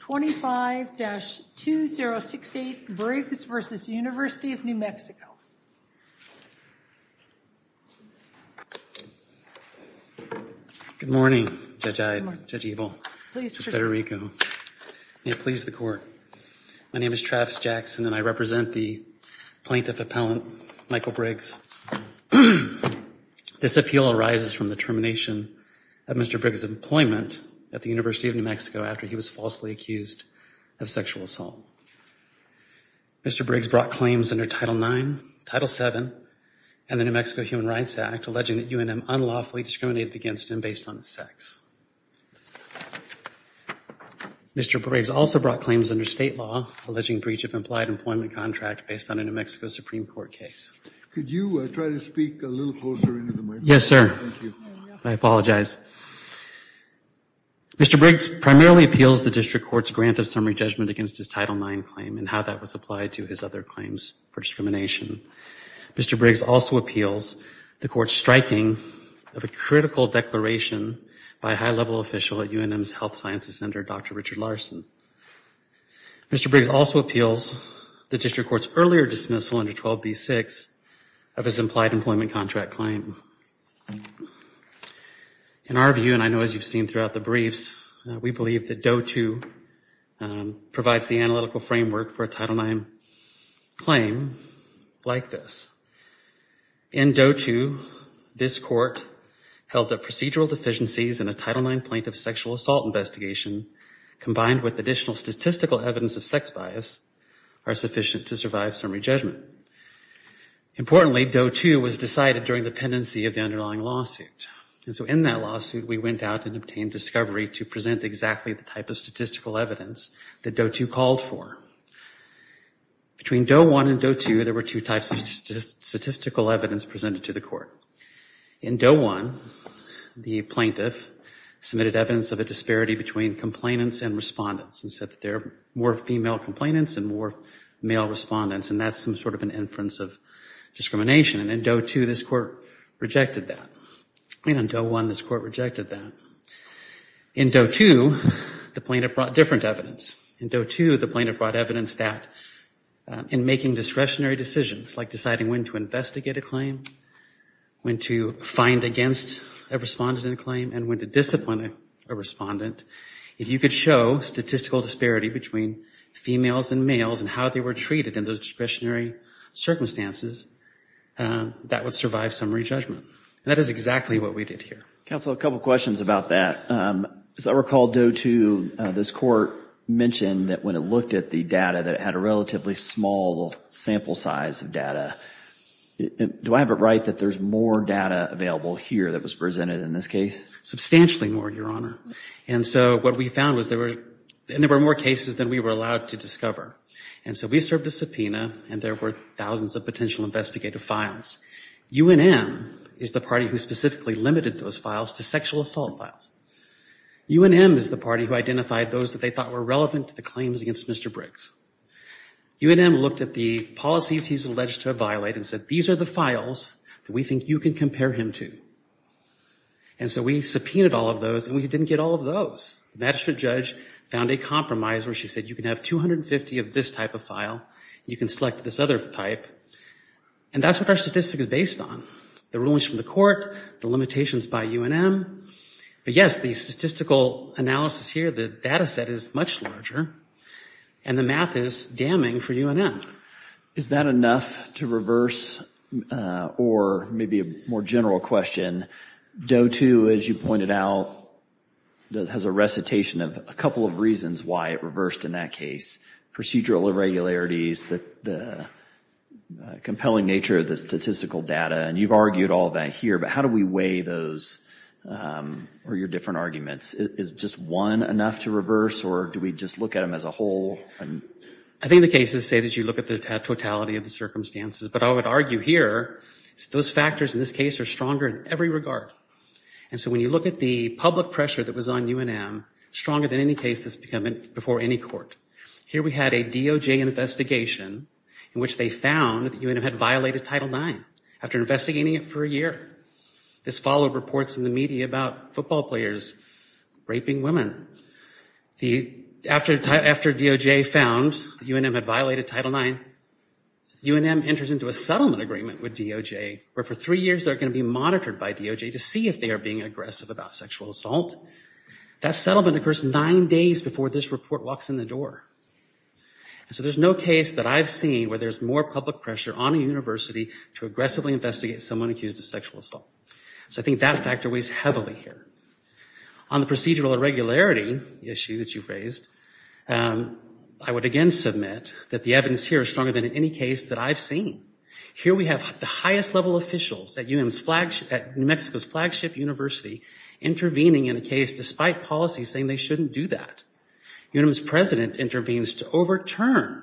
25-2068 Briggs v. University of New Mexico. Good morning, Judge Ebel, Judge Federico. May it please the court. My name is Travis Jackson and I represent the plaintiff appellant Michael Briggs. This appeal arises from the termination of Mr. Briggs' employment at the University of New Mexico after he was falsely accused of sexual assault. Mr. Briggs brought claims under Title IX, Title VII, and the New Mexico Human Rights Act alleging that UNM unlawfully discriminated against him based on sex. Mr. Briggs also brought claims under state law alleging breach of implied employment contract based on a New Mexico Supreme Court case. Could you try to speak a little closer? Yes, sir. I apologize. Mr. Briggs primarily appeals the district court's grant of summary judgment against his Title IX claim and how that was applied to his other claims for discrimination. Mr. Briggs also appeals the court's striking of a critical declaration by a high-level official at UNM's Health Sciences Center, Dr. Richard Larson. Mr. Briggs also appeals the district court's earlier dismissal under 12b6 of his implied employment contract claim. In our view, and I know as you've seen throughout the briefs, we believe that DOE II provides the analytical framework for a Title IX claim like this. In DOE II, this court held that procedural deficiencies in a Title IX plaintiff sexual assault investigation combined with additional statistical evidence of sex bias are sufficient to survive summary judgment. Importantly, DOE II was decided during the pendency of the underlying lawsuit. And so in that lawsuit, we went out and obtained discovery to present exactly the type of statistical evidence that DOE II called for. Between DOE I and DOE II, there were two types of statistical evidence presented to the court. In DOE I, the plaintiff submitted evidence of a disparity between complainants and respondents and said that there were more female complainants and more male respondents, and that's some sort of an inference of discrimination. And in DOE II, this court rejected that. And in DOE I, this court rejected that. In DOE II, the plaintiff brought different evidence. In DOE II, the plaintiff brought evidence that in making discretionary decisions, like deciding when to investigate a claim, when to find against a respondent in a claim, and when to discipline a respondent. If you could show statistical disparity between females and males and how they were treated in those discretionary circumstances, that would survive summary judgment. And that is exactly what we did here. Counsel, a couple questions about that. As I recall, DOE II, this court mentioned that when it looked at the data, that it had a relatively small sample size of data. Do I have it right that there's more data available here that was presented in this case? Substantially more, Your Honor. And so what we found was there were, and there were more cases than we were allowed to discover. And so we served a subpoena, and there were thousands of potential investigative files. UNM is the party who specifically limited those files to sexual assault files. UNM is the party who identified those that they thought were relevant to the claims against Mr. Briggs. UNM looked at the policies he's alleged to have and said, these are the files that we think you can compare him to. And so we subpoenaed all of those, and we didn't get all of those. The magistrate judge found a compromise where she said, you can have 250 of this type of file, you can select this other type. And that's what our statistic is based on. The rulings from the court, the limitations by UNM. But yes, the statistical analysis here, the data set is much larger, and the math is damning for UNM. Is that enough to reverse, or maybe a more general question, Doe 2, as you pointed out, has a recitation of a couple of reasons why it reversed in that case. Procedural irregularities, the compelling nature of the statistical data, and you've argued all that here, but how do we weigh those, or your different arguments? Is just one enough to reverse, or do we just look at them as a whole? I think the cases say that you look at the totality of the circumstances, but I would argue here, those factors in this case are stronger in every regard. And so when you look at the public pressure that was on UNM, stronger than any case that's before any court. Here we had a DOJ investigation in which they found that UNM had violated Title IX after investigating it for a year. This followed reports in the media about football players raping women. After DOJ found UNM had violated Title IX, UNM enters into a settlement agreement with DOJ, where for three years they're going to be monitored by DOJ to see if they are being aggressive about sexual assault. That settlement occurs nine days before this report walks in the door. And so there's no case that I've seen where there's more public pressure on a university to aggressively investigate someone accused of sexual assault. So I think the data factor weighs heavily here. On the procedural irregularity issue that you raised, I would again submit that the evidence here is stronger than in any case that I've seen. Here we have the highest level officials at UNM's flagship, at New Mexico's flagship university, intervening in a case despite policy saying they shouldn't do that. UNM's president intervenes to overturn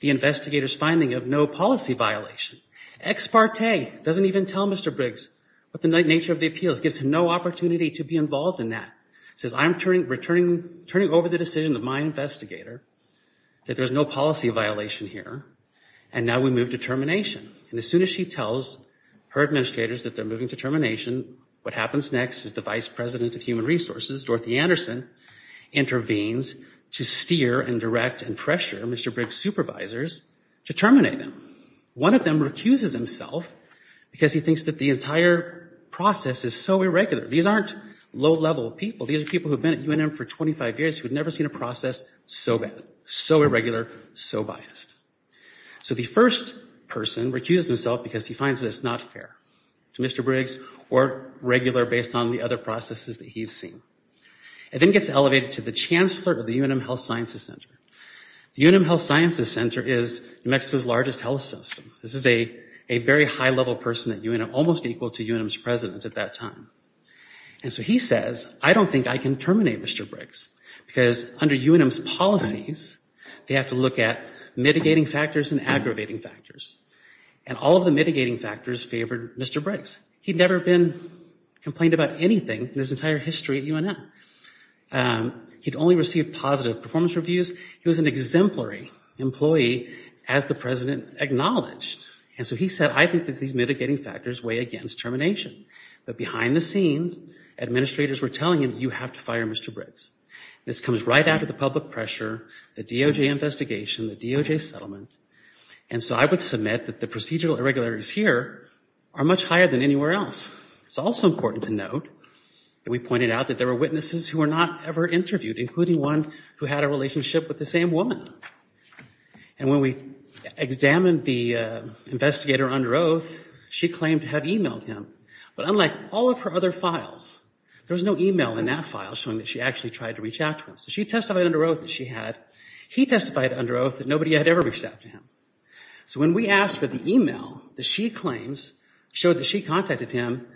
the investigator's finding of no policy violation. Ex parte doesn't even tell Mr. Briggs what the nature of the appeals. Gives him no opportunity to be involved in that. Says I'm turning over the decision of my investigator that there's no policy violation here, and now we move to termination. And as soon as she tells her administrators that they're moving to termination, what happens next is the Vice President of Human Resources, Dorothy Anderson, intervenes to steer and direct and pressure Mr. Briggs' supervisors to terminate him. One of them recuses himself because he thinks that the entire process is so irregular. These aren't low-level people. These are people who've been at UNM for 25 years who had never seen a process so bad, so irregular, so biased. So the first person recuses himself because he finds this not fair to Mr. Briggs or regular based on the other processes that he's seen. It then gets elevated to the Chancellor of the UNM Health Sciences Center. The UNM Health Sciences Center is Mexico's largest health system. This is a very high-level person at UNM, almost equal to UNM's president at that time. And so he says, I don't think I can terminate Mr. Briggs because under UNM's policies, they have to look at mitigating factors and aggravating factors. And all of the mitigating factors favored Mr. Briggs. He'd never been complained about anything in his entire history at UNM. He'd only received positive performance reviews. He was an exemplary employee as the president acknowledged. And so he said, I think that these mitigating factors weigh against termination. But behind the scenes, administrators were telling him, you have to fire Mr. Briggs. This comes right after the public pressure, the DOJ investigation, the DOJ settlement. And so I would submit that the procedural irregularities here are much higher than anywhere else. It's also important to note that we pointed out that there were witnesses who were not ever interviewed, including one who had a relationship with the same woman. And when we examined the investigator under oath, she claimed to have emailed him. But unlike all of her other files, there was no email in that file showing that she actually tried to reach out to him. So she testified under oath that she had. He testified under oath that nobody had ever reached out to him. So when we asked for the email that she claims showed that she contacted him,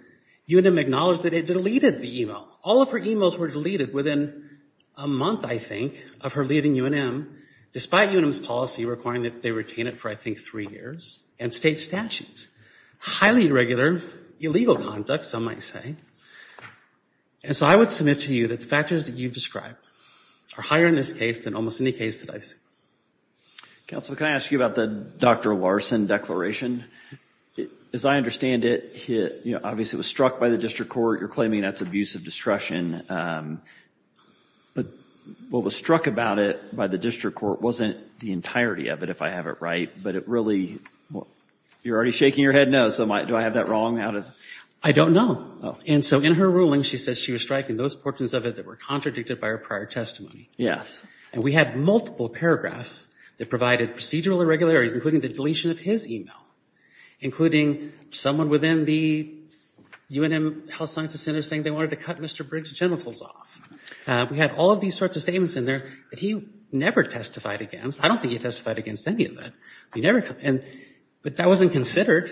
UNM acknowledged that it deleted the email. All of her emails were deleted within a month, I think, of her leaving UNM, despite UNM's policy requiring that they retain it for, I think, three years and state statutes. Highly irregular illegal conduct, some might say. And so I would submit to you that the factors that you've described are higher in this case than almost any case that I've seen. Counselor, can I ask you about the Dr. Larson declaration? As I understand it, you know, obviously it was struck by the district court. You're but what was struck about it by the district court wasn't the entirety of it if I have it right. But it really, you're already shaking your head no, so do I have that wrong? I don't know. And so in her ruling, she says she was striking those portions of it that were contradicted by her prior testimony. Yes. And we had multiple paragraphs that provided procedural irregularities, including the deletion of his email, including someone within the UNM Health Sciences Center saying they wanted to cut Mr. Briggs' genitals off. We had all of these sorts of statements in there that he never testified against. I don't think he testified against any of that. He never, and but that wasn't considered.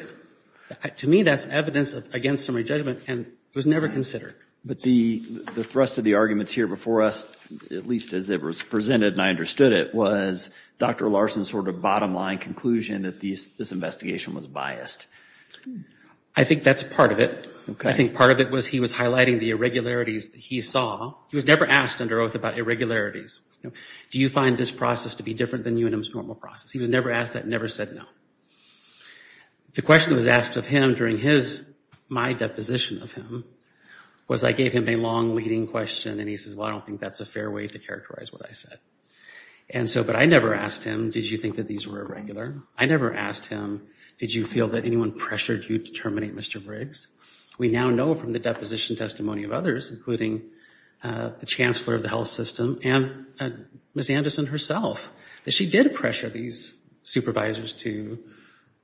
To me, that's evidence against summary judgment and was never considered. But the thrust of the arguments here before us, at least as it was presented and I understood it, was Dr. Larson's sort of bottom line conclusion that this investigation was biased. I think that's part of it. Okay. I think part of it was he was highlighting the irregularities that he saw. He was never asked under oath about irregularities. Do you find this process to be different than UNM's normal process? He was never asked that, never said no. The question that was asked of him during his, my deposition of him, was I gave him a long leading question and he says, well I don't think that's a fair way to characterize what I said. And so, but I never asked him, did you think that these were irregular? I never asked him, did you feel that anyone pressured you to terminate Mr. Briggs? We now know from the deposition testimony of others, including the Chancellor of the Health System and Ms. Anderson herself, that she did pressure these supervisors to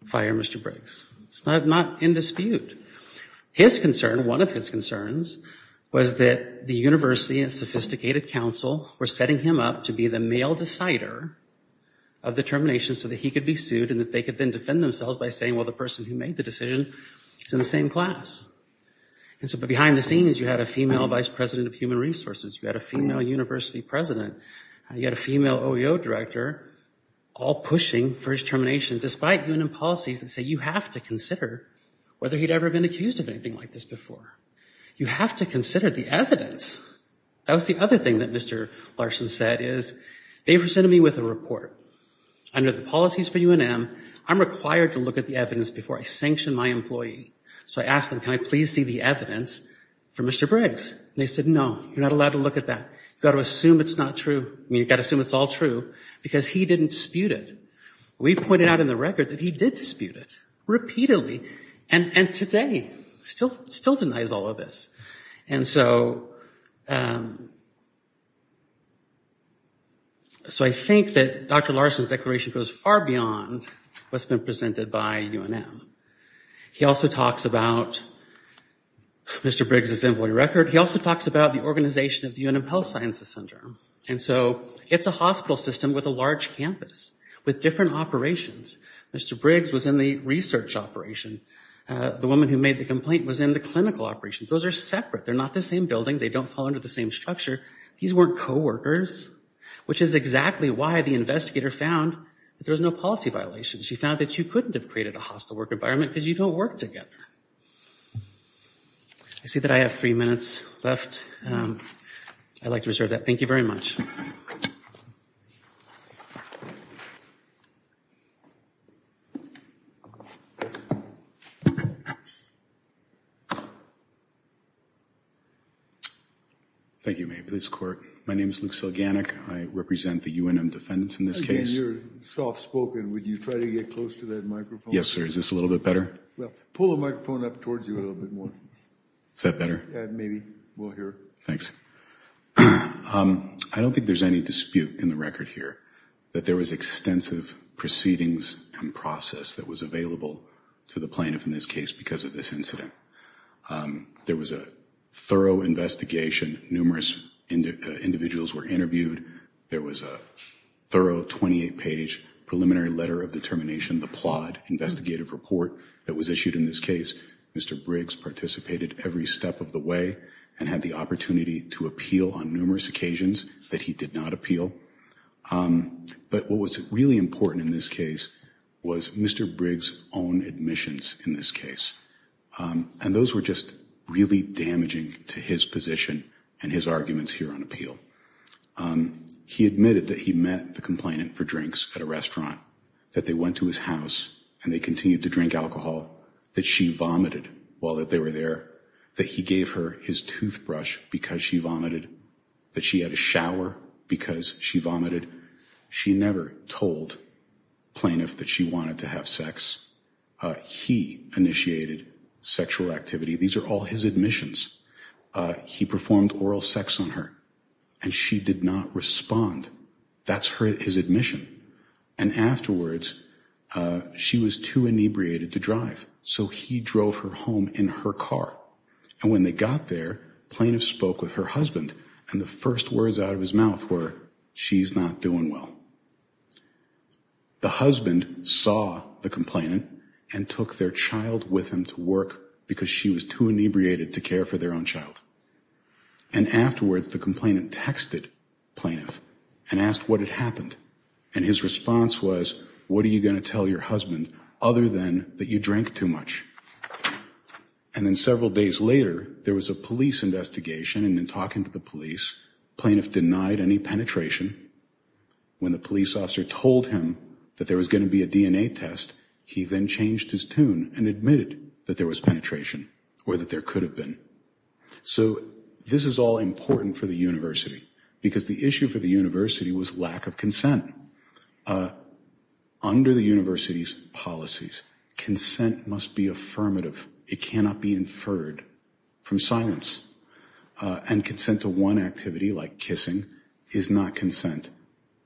fire Mr. Briggs. It's not in dispute. His concern, one of his concerns, was that the university and sophisticated counsel were setting him up to be the male decider of the termination so that he could be sued and that they could then defend themselves by saying, well the person who made the decision is in the same class. And so behind the scenes you had a female vice president of human resources, you had a female university president, you had a female OEO director, all pushing for his termination despite UNM policies that say you have to consider whether he'd ever been accused of anything like this before. You have to consider the evidence. That was the other thing that Mr. Larson said is, they presented me with a report. Under the policies for UNM, I'm required to look at the evidence before I sanction my employee. So I asked them, can I please see the evidence for Mr. Briggs? They said, no, you're not allowed to look at that. You've got to assume it's not true. I mean, you've got to assume it's all true because he didn't dispute it. We pointed out in the record that he did dispute it, repeatedly, and today still denies all of this. And so I think that Dr. Larson's declaration goes far beyond what's been presented by UNM. He also talks about Mr. Briggs's employee record. He also talks about the organization of the UNM Health Sciences Center. And so it's a hospital system with a large campus with different operations. Mr. Briggs was in the research operation. The woman who made the complaint was in the clinical operations. Those are separate. They're not the same building. They don't fall under the same structure. These weren't co-workers, which is exactly why the investigator found that there was no policy violation. She found that you couldn't have created a hostile work environment because you don't work together. I see that I have three minutes left. I'd like to reserve that. Thank you very much. Thank you, Mayor of the Police Court. My name is Luke Selganik. I represent the UNM defendants in this case. You're soft-spoken. Would you try to get close to that microphone? Yes, sir. Is this a little bit better? Well, pull the microphone up towards you a little bit more. Is that better? Maybe. We'll hear. Thanks. I don't think there's any dispute in the record here that there was extensive proceedings and process that was available to the plaintiff in this case because of this incident. There was a thorough investigation. Numerous individuals were interviewed. There was a thorough 28-page preliminary letter of determination, the plaud investigative report that was issued in this case. Mr. Briggs participated every step of the way and had the opportunity to appeal on numerous occasions that he did not appeal. But what was really important in this case was Mr. Briggs' own admissions in this case. And those were just really damaging to his position and his arguments here on appeal. He admitted that he met the complainant for drinks at a restaurant, that they went to his house and they continued to drink alcohol, that she vomited while that they were there, that he gave her his toothbrush because she vomited, that she had a shower because she vomited. She never told plaintiff that she wanted to have sex. He initiated sexual activity. These are all his admissions. He performed oral sex on her and she did not respond. That's his admission. And afterwards she was too inebriated to drive so he drove her home in her car. And when they got there, plaintiff spoke with her husband and the first words out of his mouth were, she's not doing well. The husband saw the complainant and took their child with him to work because she was too inebriated to care for their own child. And afterwards the complainant texted plaintiff and asked what had happened and his response was, what are you gonna tell your husband other than that you drank too much? And then several days later there was a police investigation and in talking to the police, plaintiff denied any penetration. When the police officer told him that there was going to be a DNA test, he then changed his tune and admitted that there was penetration or that there could have been. So this is all important for the university because the issue for the was lack of consent. Under the university's policies, consent must be affirmative. It cannot be inferred from silence. And consent to one activity like kissing is not consent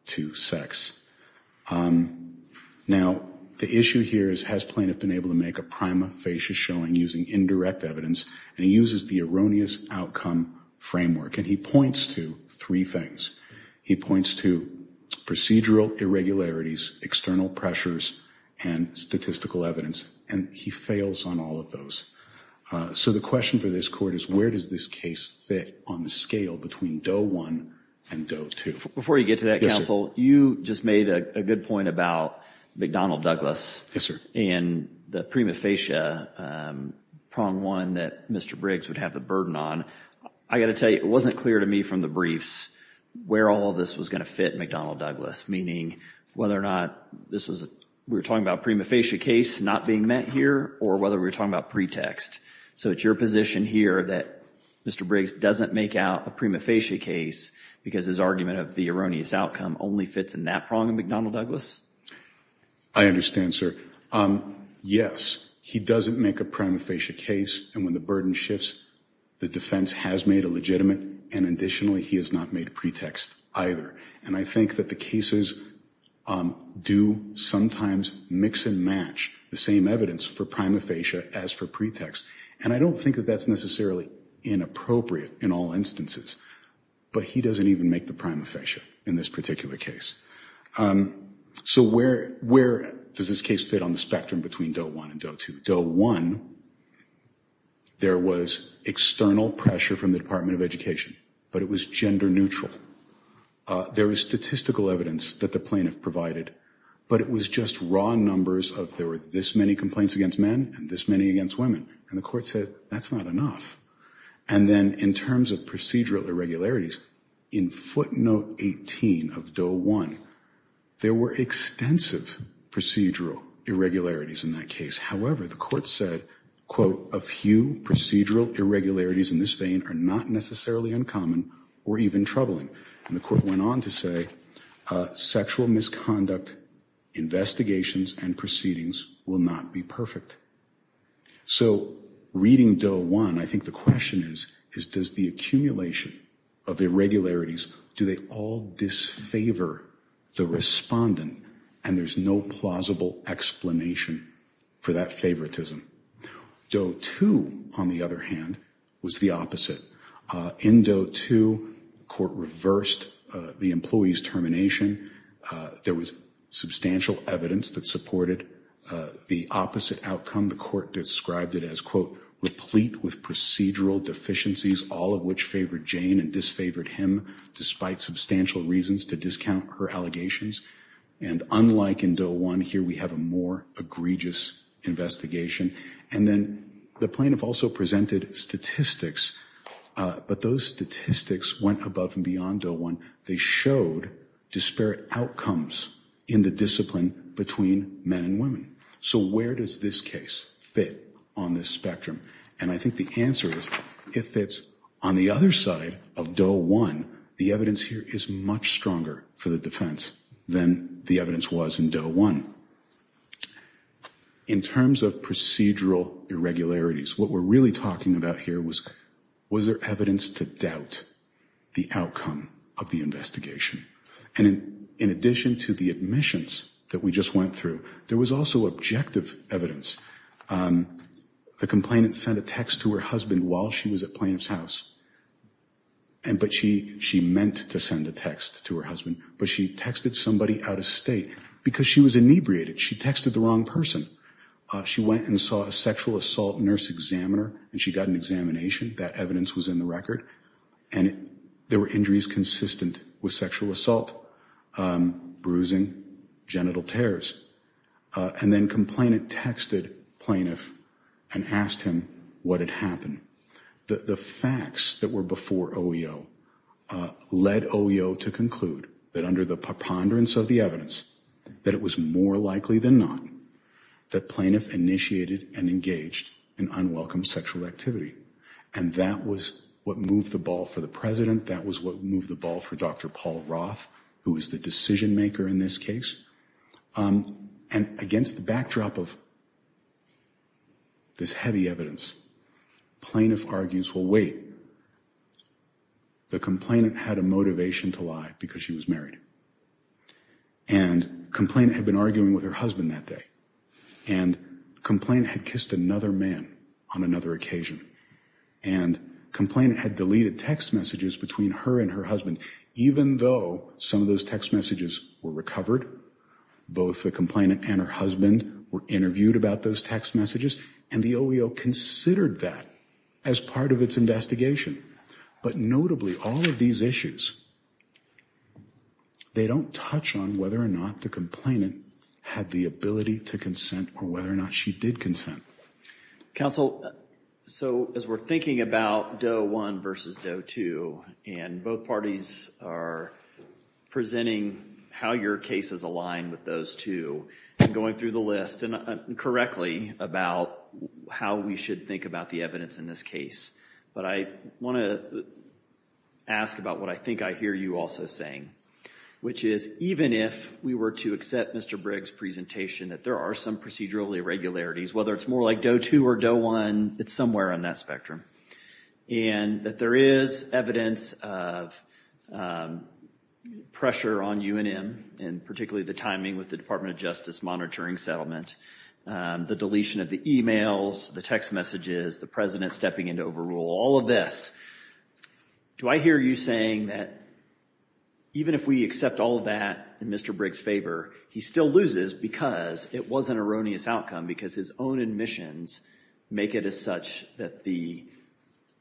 to sex. Now the issue here is has plaintiff been able to make a prima facie showing using indirect evidence and he uses the erroneous outcome framework and he points to three things. He points to procedural irregularities, external pressures, and statistical evidence and he fails on all of those. So the question for this court is where does this case fit on the scale between Doe 1 and Doe 2? Before you get to that counsel, you just made a good point about McDonnell Douglas. Yes sir. And the prima facie prong one that Mr. Briggs would have the burden on. I got to tell you it wasn't clear to me from the briefs where all this was going to fit McDonnell Douglas. Meaning whether or not this was we're talking about prima facie case not being met here or whether we're talking about pretext. So it's your position here that Mr. Briggs doesn't make out a prima facie case because his argument of the erroneous outcome only fits in that prong of McDonnell Douglas? I understand sir. Yes he doesn't make a prima facie case and when the burden shifts the defense has made a legitimate and additionally he has not made a pretext either. And I think that the cases do sometimes mix and match the same evidence for prima facie as for pretext. And I don't think that that's necessarily inappropriate in all instances. But he doesn't even make the in this particular case. So where where does this case fit on the spectrum between Doe 1 and Doe 2? Doe 1 there was external pressure from the Department of Education but it was gender-neutral. There is statistical evidence that the plaintiff provided but it was just raw numbers of there were this many complaints against men and this many against women and the court said that's not enough. And then in terms of procedural irregularities in footnote 18 of Doe 1 there were extensive procedural irregularities in that case. However the court said quote a few procedural irregularities in this vein are not necessarily uncommon or even troubling. And the court went on to say sexual misconduct investigations and proceedings will not be perfect. So reading Doe 1 I think the question is is does the accumulation of irregularities do they all disfavor the respondent and there's no plausible explanation for that favoritism. Doe 2 on the other hand was the opposite. In Doe 2 court reversed the employees termination. There was substantial evidence that supported the opposite outcome. The court described it as quote replete with procedural deficiencies all of which favored Jane and disfavored him despite substantial reasons to discount her allegations. And unlike in Doe 1 here we have a more egregious investigation. And then the plaintiff also presented statistics but those statistics went above and beyond Doe 1. They showed disparate outcomes in the discipline between men and women. So where does this case fit on this spectrum? And I think the answer is if it's on the other side of Doe 1 the evidence here is much stronger for the defense than the evidence was in Doe 1. In terms of procedural irregularities what we're really talking about here was was there evidence to doubt the outcome of the investigation? And in addition to the admissions that we just went through there was also objective evidence. The complainant sent a text to her husband while she was at plaintiff's house and but she she meant to send a text to her husband but she texted somebody out of state because she was inebriated. She texted the wrong person. She went and saw a sexual assault nurse examiner and she got an examination. That evidence was in the record and there were injuries consistent with sexual assault, bruising, genital tears. And then complainant texted plaintiff and asked him what had happened. The facts that were before OEO led OEO to conclude that under the preponderance of the evidence that it was more likely than not that plaintiff initiated and engaged in unwelcome sexual activity. And that was what moved the ball for the president. That was what moved the ball for Dr. Paul Roth who was the decision-maker in this case. And against the backdrop of this heavy evidence plaintiff argues well wait the complainant had a motivation to lie because she was married. And complainant had been arguing with her husband that day. And complainant had kissed another man on another occasion. And complainant had deleted text messages between her and her husband even though some of those text messages were recovered. Both the complainant and her husband were interviewed about those text messages and the OEO considered that as part of its investigation. But notably all of these issues they don't touch on whether or not the complainant had the ability to consent or whether or not she did consent. Counsel, so as we're thinking about Doe 1 versus Doe 2 and both parties are presenting how your cases align with those two and going through the list and correctly about how we should think about the evidence in this case. But I want to ask about what I think I hear you also saying. Which is even if we were to accept Mr. Briggs presentation that there are some procedural irregularities whether it's more like Doe 2 or Doe 1 it's somewhere on that spectrum. And that there is evidence of pressure on UNM and particularly the timing with the Department of Justice monitoring settlement. The deletion of the emails, the text messages, the president stepping into overrule, all of this. Do I hear you saying that even if we accept all of that in Mr. Briggs favor he still loses because it was an erroneous outcome because his own admissions make it as such that the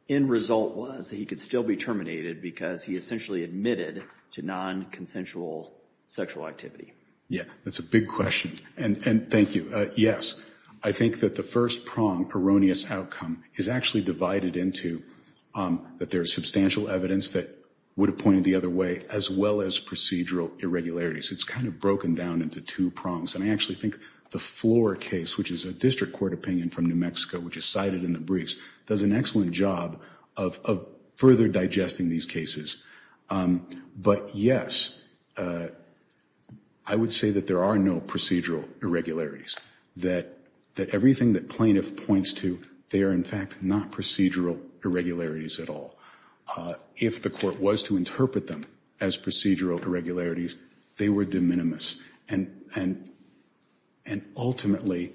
end result was that he could still be terminated because he essentially admitted to non-consensual sexual activity? Yeah, that's a big question and thank you. Yes, I think that the first prong erroneous outcome is actually divided into that there's substantial evidence that would have pointed the other way as well as procedural irregularities. It's kind of broken down into two prongs and I think the floor case which is a district court opinion from New Mexico which is cited in the briefs does an excellent job of further digesting these cases. But yes, I would say that there are no procedural irregularities. That everything that plaintiff points to they are in fact not procedural irregularities at all. If the court was to interpret them as procedural irregularities they were de minimis and ultimately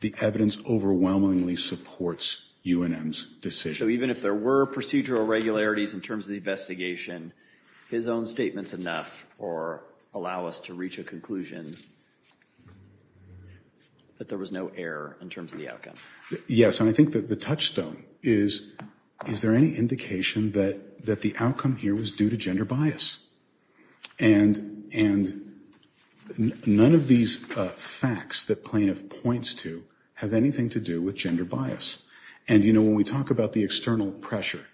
the evidence overwhelmingly supports UNM's decision. So even if there were procedural irregularities in terms of the investigation his own statements enough or allow us to reach a conclusion that there was no error in terms of the outcome? Yes, and I think that the touchstone is is there any indication that that the outcome here was due to gender bias and and none of these facts that plaintiff points to have anything to do with gender bias. And you know when we talk about the external pressure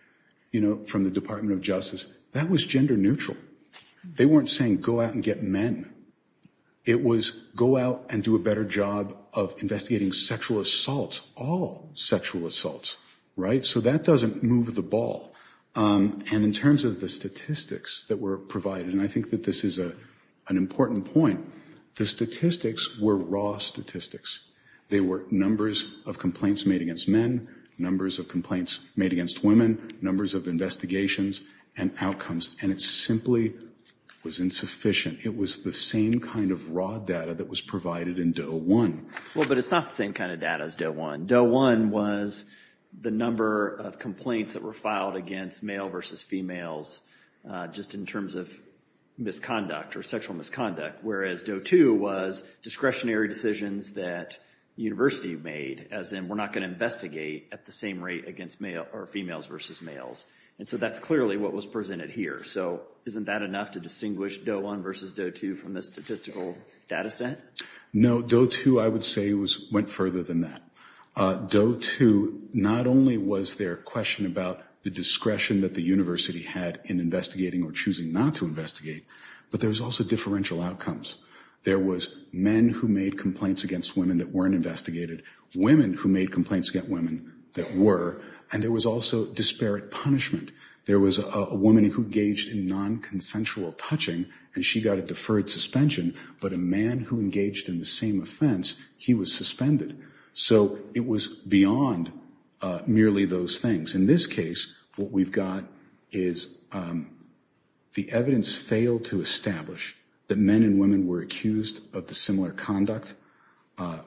you know from the Department of Justice that was gender neutral. They weren't saying go out and get men. It was go out and do a better job of investigating sexual assaults, all sexual assaults, right? So that doesn't move the ball. And in terms of the statistics that were provided, and I think that this is a an important point, the statistics were raw statistics. They were numbers of complaints made against men, numbers of complaints made against women, numbers of investigations, and outcomes. And it simply was insufficient. It was the same kind of raw data that was provided in Doe 1. Well of complaints that were filed against male versus females just in terms of misconduct or sexual misconduct, whereas Doe 2 was discretionary decisions that university made, as in we're not going to investigate at the same rate against male or females versus males. And so that's clearly what was presented here. So isn't that enough to distinguish Doe 1 versus Doe 2 from the statistical data set? No, Doe 2, I would say, went further than that. Doe 2, not only was there a question about the discretion that the university had in investigating or choosing not to investigate, but there's also differential outcomes. There was men who made complaints against women that weren't investigated, women who made complaints against women that were, and there was also disparate punishment. There was a woman who engaged in non-consensual touching, and she got a deferred suspension, but a man who engaged in the same offense, he was suspended. So it was beyond merely those things. In this case, what we've got is the evidence failed to establish that men and women were accused of the similar conduct,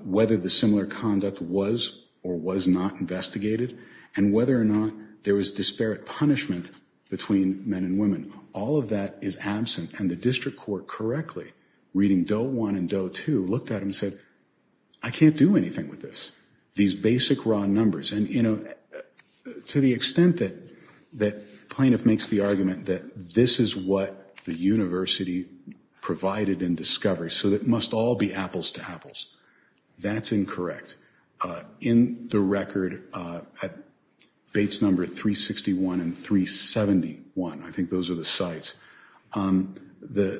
whether the similar conduct was or was not investigated, and whether or not there was disparate punishment between men and women. All of that is absent, and the district court correctly, reading Doe 1 and Doe 2, looked at them and said, I can't do anything with this. These basic raw numbers, and you know, to the extent that that plaintiff makes the argument that this is what the university provided in discovery, so that must all be apples to apples, that's incorrect. In the record at Bates number 361 and 371, I think those are the sites, the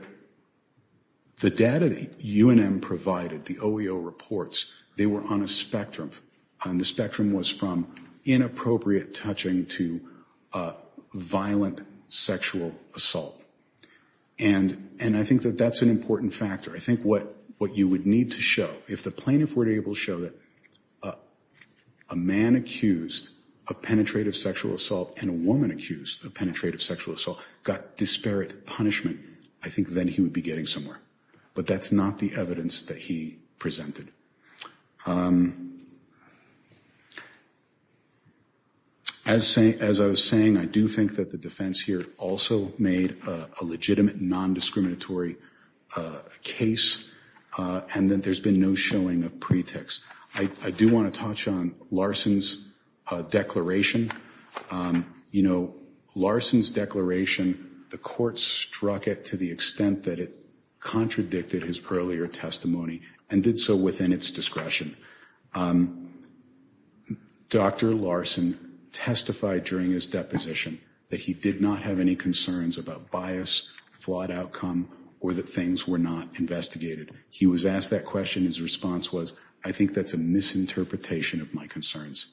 data the UNM provided, the OEO reports, they were on a spectrum, and the spectrum was from inappropriate touching to violent sexual assault, and I think that that's an important factor. I think what you would need to show, if the plaintiff were to able to show that a man accused of penetrative sexual assault and a woman accused of penetrative sexual assault got disparate punishment, I think then he would be getting somewhere, but that's not the evidence that he presented. As saying, as I was saying, I do think that the defense here also made a legitimate non-discriminatory case, and that there's been no showing of pretext. I do want to touch on Larson's declaration. You know, Larson's declaration, the court struck it to the extent that it contradicted his earlier testimony, and did so within its discretion. Dr. Larson testified during his deposition that he did not have any concerns about bias, flawed outcome, or that things were not investigated. He was asked that question. His response was, I think that's a misinterpretation of my concerns.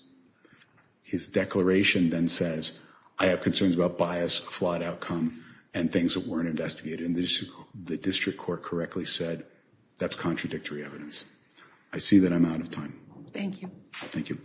His declaration then says, I have concerns about bias, flawed outcome, and things that weren't investigated, and the district court correctly said, that's contradictory evidence. I see that I'm out of time. Thank you. Thank you.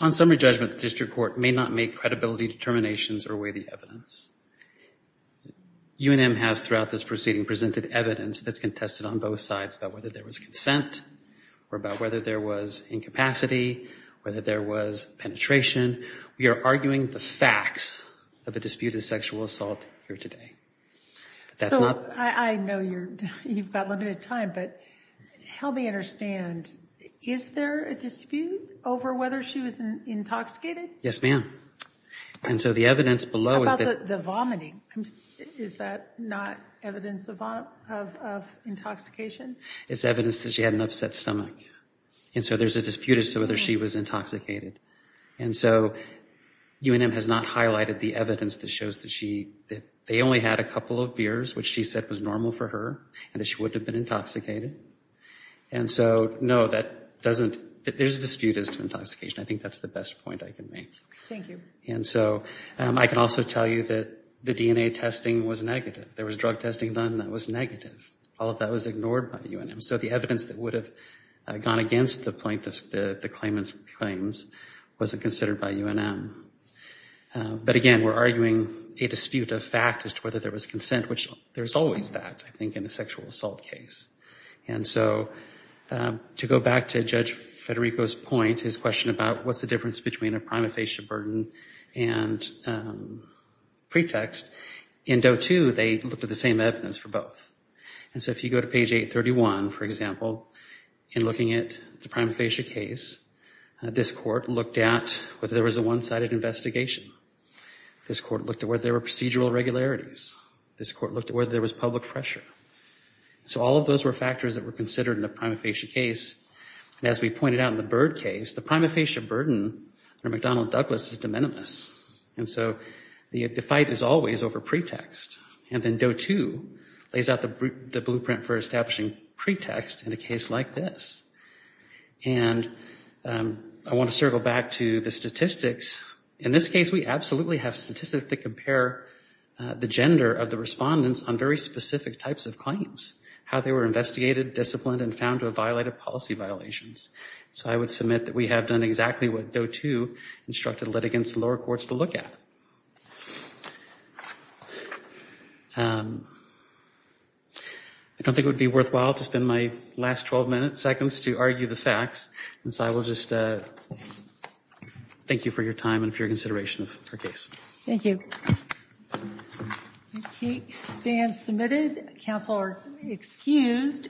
On summary judgment, the district court may not make credibility determinations or weigh the evidence. UNM has, throughout this proceeding, presented evidence that's contested on both sides about whether there was consent, or about whether there was incapacity, whether there was penetration. We are arguing the facts of the dispute of sexual assault here today. I know you've got limited time, but help me understand, is there a dispute over whether she was intoxicated? Yes, ma'am. And so the evidence below is that the vomiting, is that not evidence of intoxication? It's evidence that she had an upset stomach, and so there's a dispute as to whether she was intoxicated. And so, UNM has not highlighted the evidence that shows that she, that they only had a couple of beers, which she said was normal for her, and that she wouldn't have been intoxicated. And so, no, that doesn't, there's a dispute as to intoxication. I think that's the best point I can make. Thank you. And so, I can also tell you that the DNA testing was negative. There was drug testing done that was negative. All of that was ignored by UNM. So the evidence that would have gone against the plaintiffs, the claimants' claims, wasn't considered by UNM. But again, we're arguing a dispute of fact as to whether there was consent, which there's always that, I think, in a sexual assault case. And so, to go back to Judge Federico's point, his question about what's the difference between a prima facie burden and pretext, in Doe 2, they looked at the evidence for both. And so, if you go to page 831, for example, in looking at the prima facie case, this court looked at whether there was a one-sided investigation. This court looked at whether there were procedural regularities. This court looked at whether there was public pressure. So, all of those were factors that were considered in the prima facie case. And as we pointed out in the Byrd case, the prima facie burden under McDonnell Douglas is minimus. And so, the fight is always over pretext. And then, Doe 2 lays out the blueprint for establishing pretext in a case like this. And I want to circle back to the statistics. In this case, we absolutely have statistics that compare the gender of the respondents on very specific types of claims, how they were investigated, disciplined, and found to have violated policy violations. So, I would admit that we have done exactly what Doe 2 instructed litigants in lower courts to look at. I don't think it would be worthwhile to spend my last 12 minutes, seconds, to argue the facts. And so, I will just thank you for your time and for your consideration of our case. Thank you. The case stands submitted. Counsel are excused.